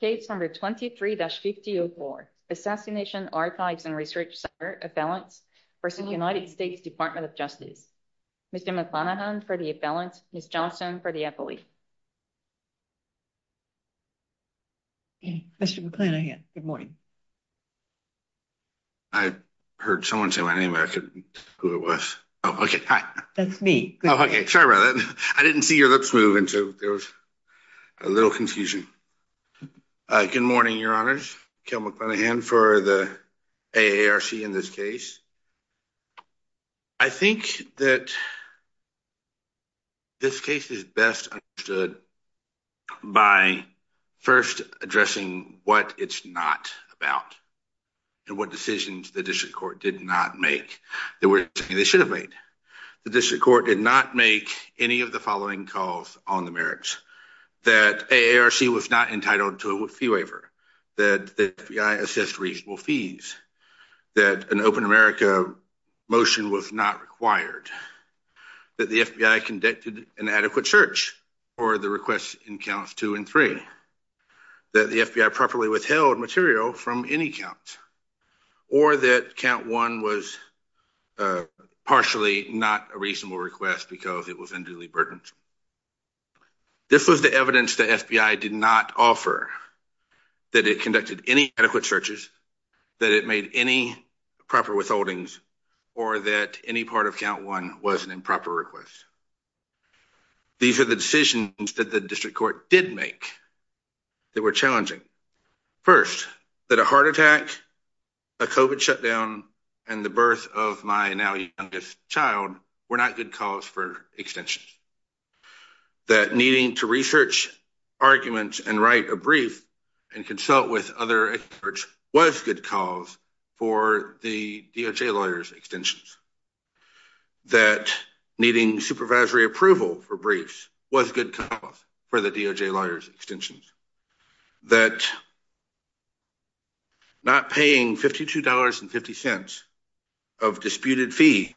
Case number 23-5004, Assassination Archives and Research Center, Appellants v. United States Department of Justice. Mr. McClanahan for the appellants, Ms. Johnson for the affiliate. Mr. McClanahan, good morning. I heard someone say my name, but I couldn't tell who it was. Oh, okay, hi. That's me. Sorry about that. I didn't see your lips move, and so there was a little confusion. Good morning, your honors. Kel McClanahan for the AARC in this case. I think that this case is best understood by first addressing what it's not about and what decisions the district court did not make. They were saying they should have made. The district court did not make any of the following calls on the merits. That AARC was not entitled to a fee waiver. That the FBI assessed reasonable fees. That an Open America motion was not required. That the FBI conducted an adequate search for the requests in counts two and three. That the FBI properly withheld material from any count. Or that count one was partially not a reasonable request because it was unduly burdensome. This was the evidence the FBI did not offer. That it conducted any adequate searches. That it made any proper withholdings. Or that any part of count one was an improper request. These are the decisions that the district court did make. They were challenging. First, that a heart attack, a COVID shutdown, and the birth of my now youngest child were not good cause for extensions. That needing to research arguments and write a brief and consult with other experts was good cause for the DOJ lawyers extensions. That needing supervisory approval for briefs was good cause for the DOJ lawyers extensions. That not paying $52.50 of disputed fees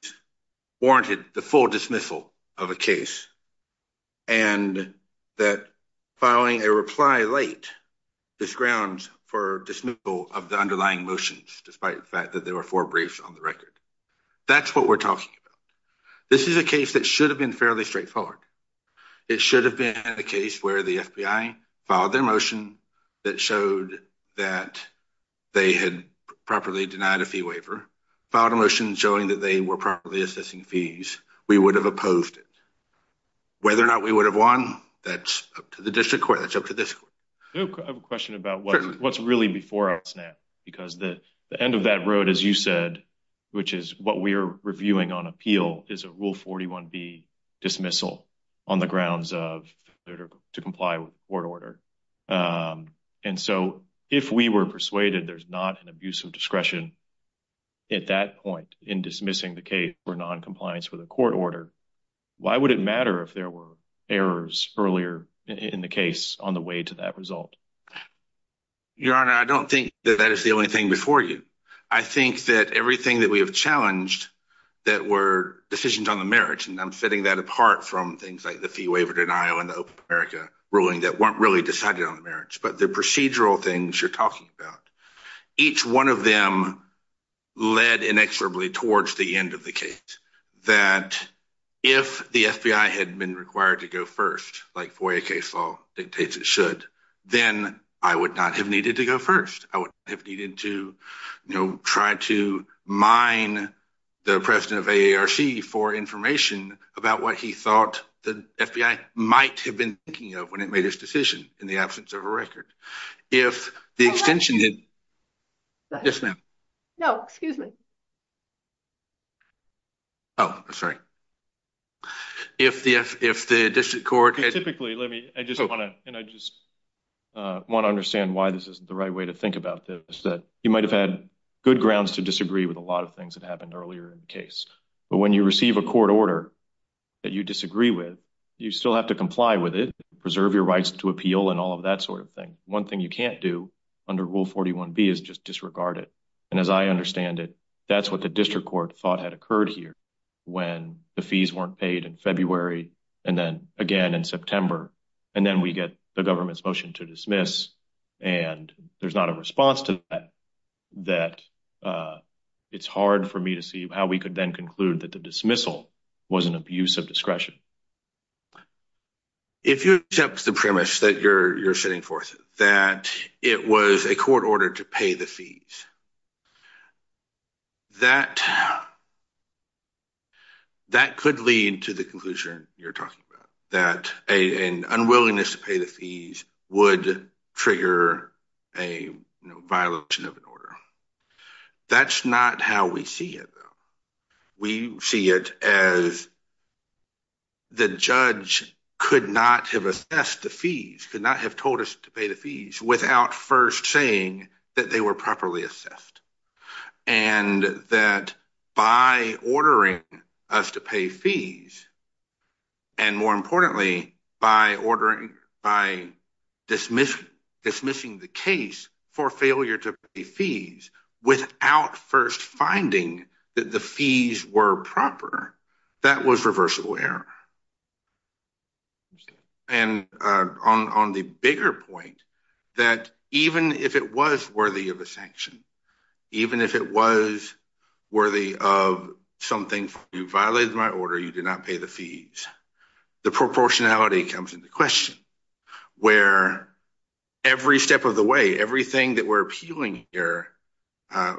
warranted the full dismissal of a case. And that filing a reply late disgrounds for dismissal of the underlying motions despite the fact that there were four briefs on the record. That's what we're talking about. This is a case that should have been fairly straightforward. It should have been a case where the FBI filed their motion that showed that they had properly denied a fee waiver. Filed a motion showing that they were properly assessing fees. We would have opposed it. Whether or not we would have won, that's up to the district court. That's up to this court. I have a question about what's really before us now. Because the end of that road, as you said, which is what we are reviewing on appeal, is a Rule 41B dismissal on the grounds of failure to comply with court order. And so if we were persuaded there's not an abuse of discretion at that point in dismissing the case for noncompliance with a court order, why would it matter if there were errors earlier in the case on the way to that result? Your Honor, I don't think that that is the only thing before you. I think that everything that we have challenged that were decisions on the merits, and I'm setting that apart from things like the fee waiver denial and the open America ruling that weren't really decided on the merits. But the procedural things you're talking about, each one of them led inexorably towards the end of the case. If the FBI had been required to go first, like FOIA case law dictates it should, then I would not have needed to go first. I would have needed to try to mine the president of AARC for information about what he thought the FBI might have been thinking of when it made its decision in the absence of a record. Yes, ma'am. No, excuse me. Oh, sorry. If the district court... Typically, let me, I just want to, and I just want to understand why this isn't the right way to think about this. You might have had good grounds to disagree with a lot of things that happened earlier in the case. But when you receive a court order that you disagree with, you still have to comply with it, preserve your rights to appeal and all of that sort of thing. One thing you can't do under Rule 41B is just disregard it. And as I understand it, that's what the district court thought had occurred here when the fees weren't paid in February and then again in September. And then we get the government's motion to dismiss. And there's not a response to that. It's hard for me to see how we could then conclude that the dismissal was an abuse of discretion. If you accept the premise that you're setting forth, that it was a court order to pay the fees, that could lead to the conclusion you're talking about. That an unwillingness to pay the fees would trigger a violation of an order. That's not how we see it, though. We see it as the judge could not have assessed the fees, could not have told us to pay the fees without first saying that they were properly assessed. And that by ordering us to pay fees, and more importantly, by dismissing the case for failure to pay fees without first finding that the fees were proper, that was reversible error. And on the bigger point, that even if it was worthy of a sanction, even if it was worthy of something, you violated my order, you did not pay the fees. The proportionality comes into question, where every step of the way, everything that we're appealing here,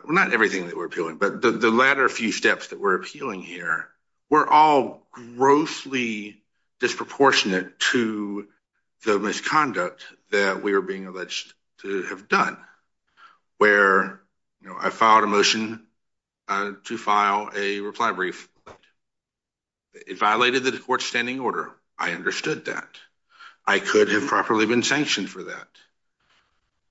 not everything that we're appealing, but the latter few steps that we're appealing here, we're all grossly disproportionate to the misconduct that we are being alleged to have done, where I filed a motion to file a reply brief. It violated the court's standing order, I understood that. I could have properly been sanctioned for that.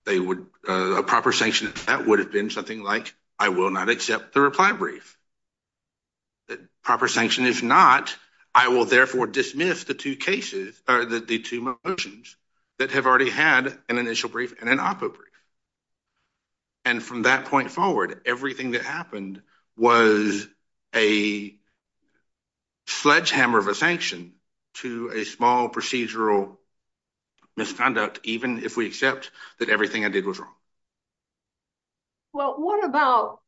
A proper sanction of that would have been something like, I will not accept the reply brief. A proper sanction is not, I will therefore dismiss the two motions that have already had an initial brief and an op-ed brief. And from that point forward, everything that happened was a sledgehammer of a sanction to a small procedural misconduct, even if we accept that everything I did was wrong. Well, what about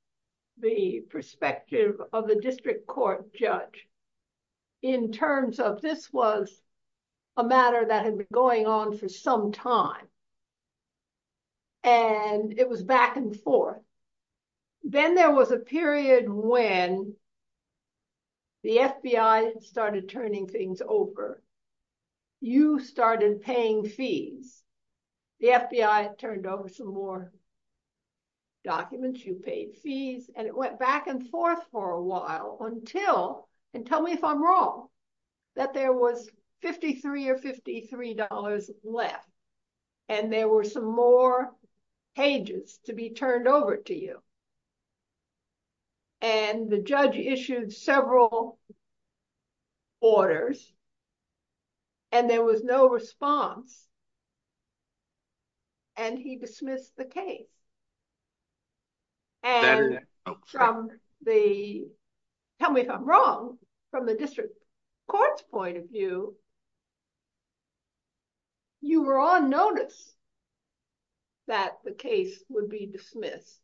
the perspective of the district court judge, in terms of this was a matter that had been going on for some time, and it was back and forth. Then there was a period when the FBI started turning things over. You started paying fees. The FBI turned over some more documents, you paid fees, and it went back and forth for a while until, and tell me if I'm wrong, that there was $53 or $53 left, and there were some more pages to be turned over to you. And the judge issued several orders, and there was no response, and he dismissed the case. And from the, tell me if I'm wrong, from the district court's point of view, you were on notice that the case would be dismissed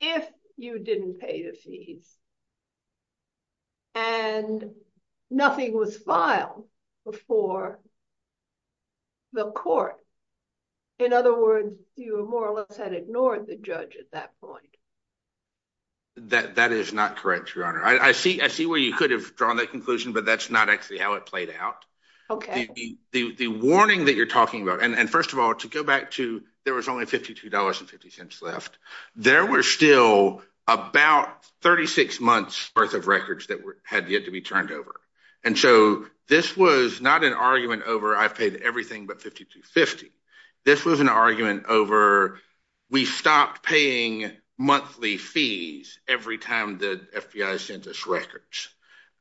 if you didn't pay the fees, and nothing was filed before the court. In other words, you more or less had ignored the judge at that point. That is not correct, Your Honor. I see where you could have drawn that conclusion, but that's not actually how it played out. Okay. The warning that you're talking about, and first of all, to go back to there was only $52.50 left, there were still about 36 months' worth of records that had yet to be turned over. And so this was not an argument over I've paid everything but $52.50. This was an argument over we stopped paying monthly fees every time the FBI sent us records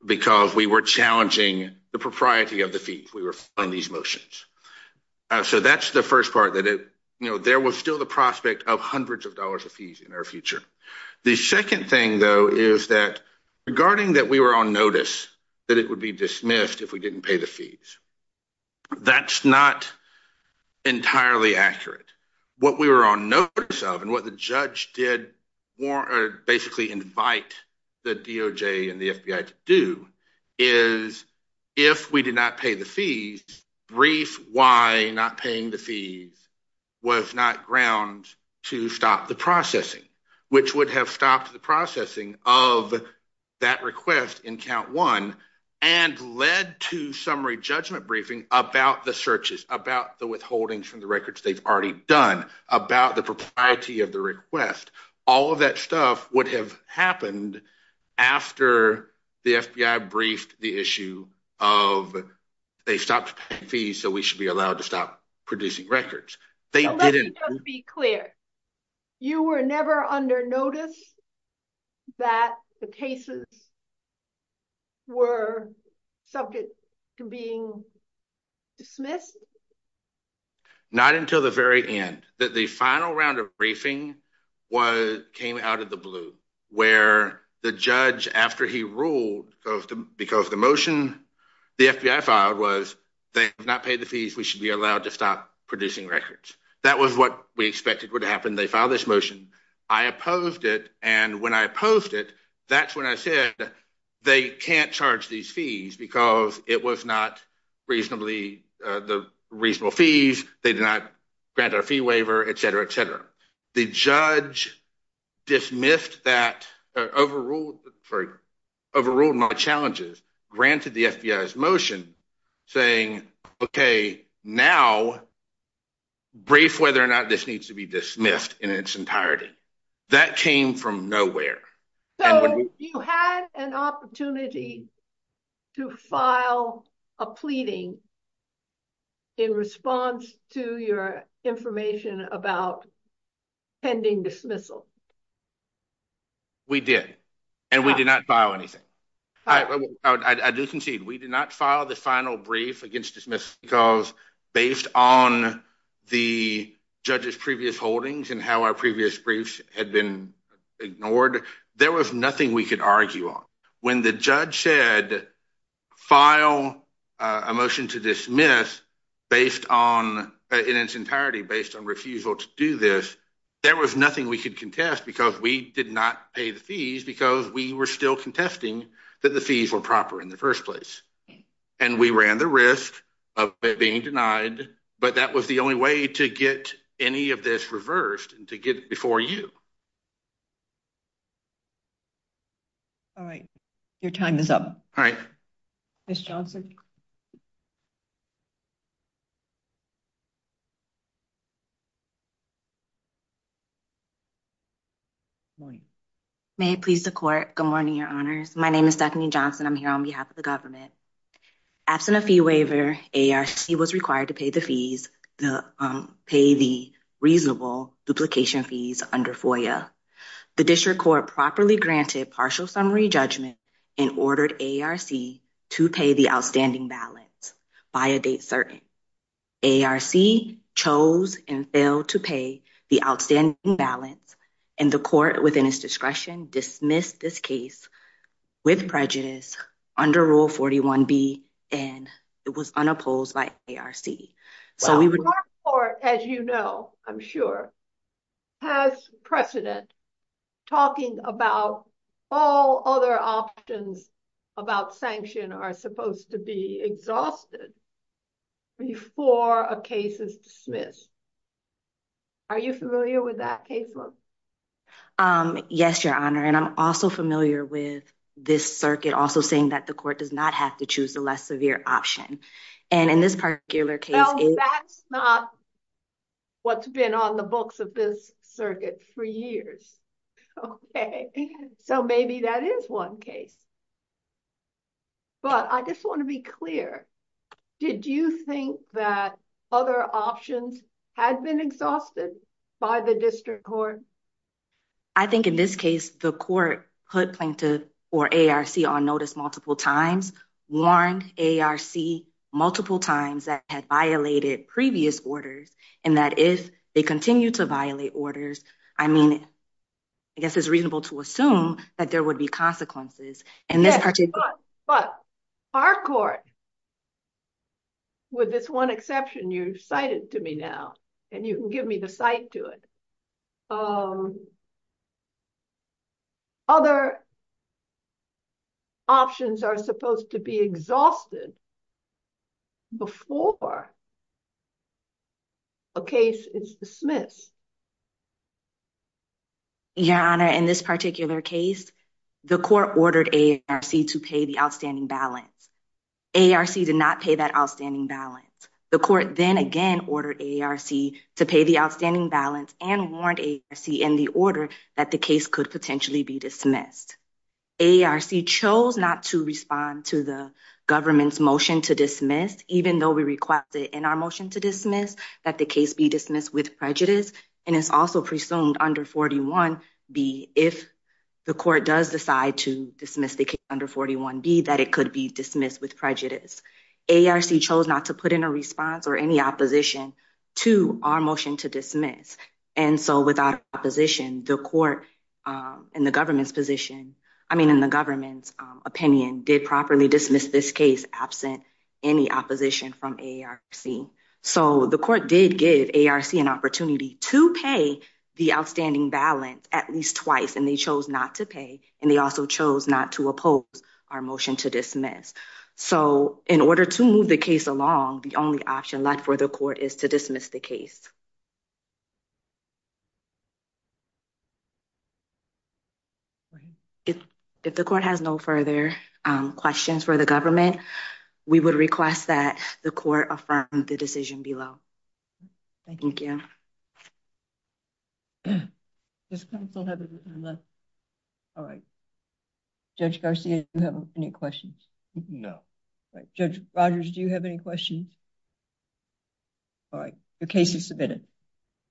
because we were challenging the propriety of the fees we were filing these motions. So that's the first part that it, you know, there was still the prospect of hundreds of dollars of fees in our future. The second thing, though, is that regarding that we were on notice that it would be dismissed if we didn't pay the fees, that's not entirely accurate. What we were on notice of and what the judge did basically invite the DOJ and the FBI to do is if we did not pay the fees, brief why not paying the fees was not ground to stop the processing, which would have stopped the processing of that request in count one and led to summary judgment briefing about the searches, about the withholdings from the records they've already done, about the propriety of the request. All of that stuff would have happened after the FBI briefed the issue of they stopped paying fees so we should be allowed to stop producing records. Let me just be clear. You were never under notice that the cases were subject to being dismissed? Not until the very end that the final round of briefing came out of the blue where the judge, after he ruled because the motion the FBI filed was they have not paid the fees. We should be allowed to stop producing records. That was what we expected would happen. I opposed it, and when I opposed it, that's when I said they can't charge these fees because it was not reasonably – the reasonable fees, they did not grant our fee waiver, et cetera, et cetera. The judge dismissed that, overruled my challenges, granted the FBI's motion saying, okay, now brief whether or not this needs to be dismissed in its entirety. That came from nowhere. So you had an opportunity to file a pleading in response to your information about pending dismissal? We did, and we did not file anything. I do concede. We did not file the final brief against dismiss because based on the judge's previous holdings and how our previous briefs had been ignored, there was nothing we could argue on. When the judge said file a motion to dismiss based on – in its entirety based on refusal to do this, there was nothing we could contest because we did not pay the fees because we were still contesting that the fees were proper in the first place. And we ran the risk of it being denied, but that was the only way to get any of this reversed and to get it before you. All right. Your time is up. All right. Ms. Johnson. Good morning. May it please the court. Good morning, your honors. My name is Stephanie Johnson. I'm here on behalf of the government. Absent a fee waiver, AARC was required to pay the reasonable duplication fees under FOIA. The district court properly granted partial summary judgment and ordered AARC to pay the outstanding balance by a date certain. AARC chose and failed to pay the outstanding balance and the court within its discretion dismissed this case with prejudice under Rule 41B and it was unopposed by AARC. Your court, as you know, I'm sure, has precedent talking about all other options about sanction are supposed to be exhausted before a case is dismissed. Are you familiar with that case law? Yes, your honor. And I'm also familiar with this circuit also saying that the court does not have to choose the less severe option. And in this particular case, that's not what's been on the books of this circuit for years. So maybe that is one case. But I just want to be clear. Did you think that other options had been exhausted by the district court? I think in this case, the court put plaintiff or AARC on notice multiple times, warned AARC multiple times that had violated previous orders and that if they continue to violate orders, I mean, I guess it's reasonable to assume that there would be consequences. But our court, with this one exception you cited to me now, and you can give me the site to it. Other options are supposed to be exhausted before a case is dismissed. Your honor, in this particular case, the court ordered AARC to pay the outstanding balance. AARC did not pay that outstanding balance. The court then again ordered AARC to pay the outstanding balance and warned AARC in the order that the case could potentially be dismissed. AARC chose not to respond to the government's motion to dismiss, even though we requested in our motion to dismiss that the case be dismissed with prejudice. And it's also presumed under 41B, if the court does decide to dismiss the case under 41B, that it could be dismissed with prejudice. AARC chose not to put in a response or any opposition to our motion to dismiss. And so without opposition, the court in the government's position, I mean, in the government's opinion, did properly dismiss this case absent any opposition from AARC. So the court did give AARC an opportunity to pay the outstanding balance at least twice, and they chose not to pay. And they also chose not to oppose our motion to dismiss. So in order to move the case along, the only option left for the court is to dismiss the case. If the court has no further questions for the government, we would request that the court affirm the decision below. Thank you. Thank you. All right. Judge Garcia, do you have any questions? No. All right. Judge Rogers, do you have any questions? All right. Your case is submitted.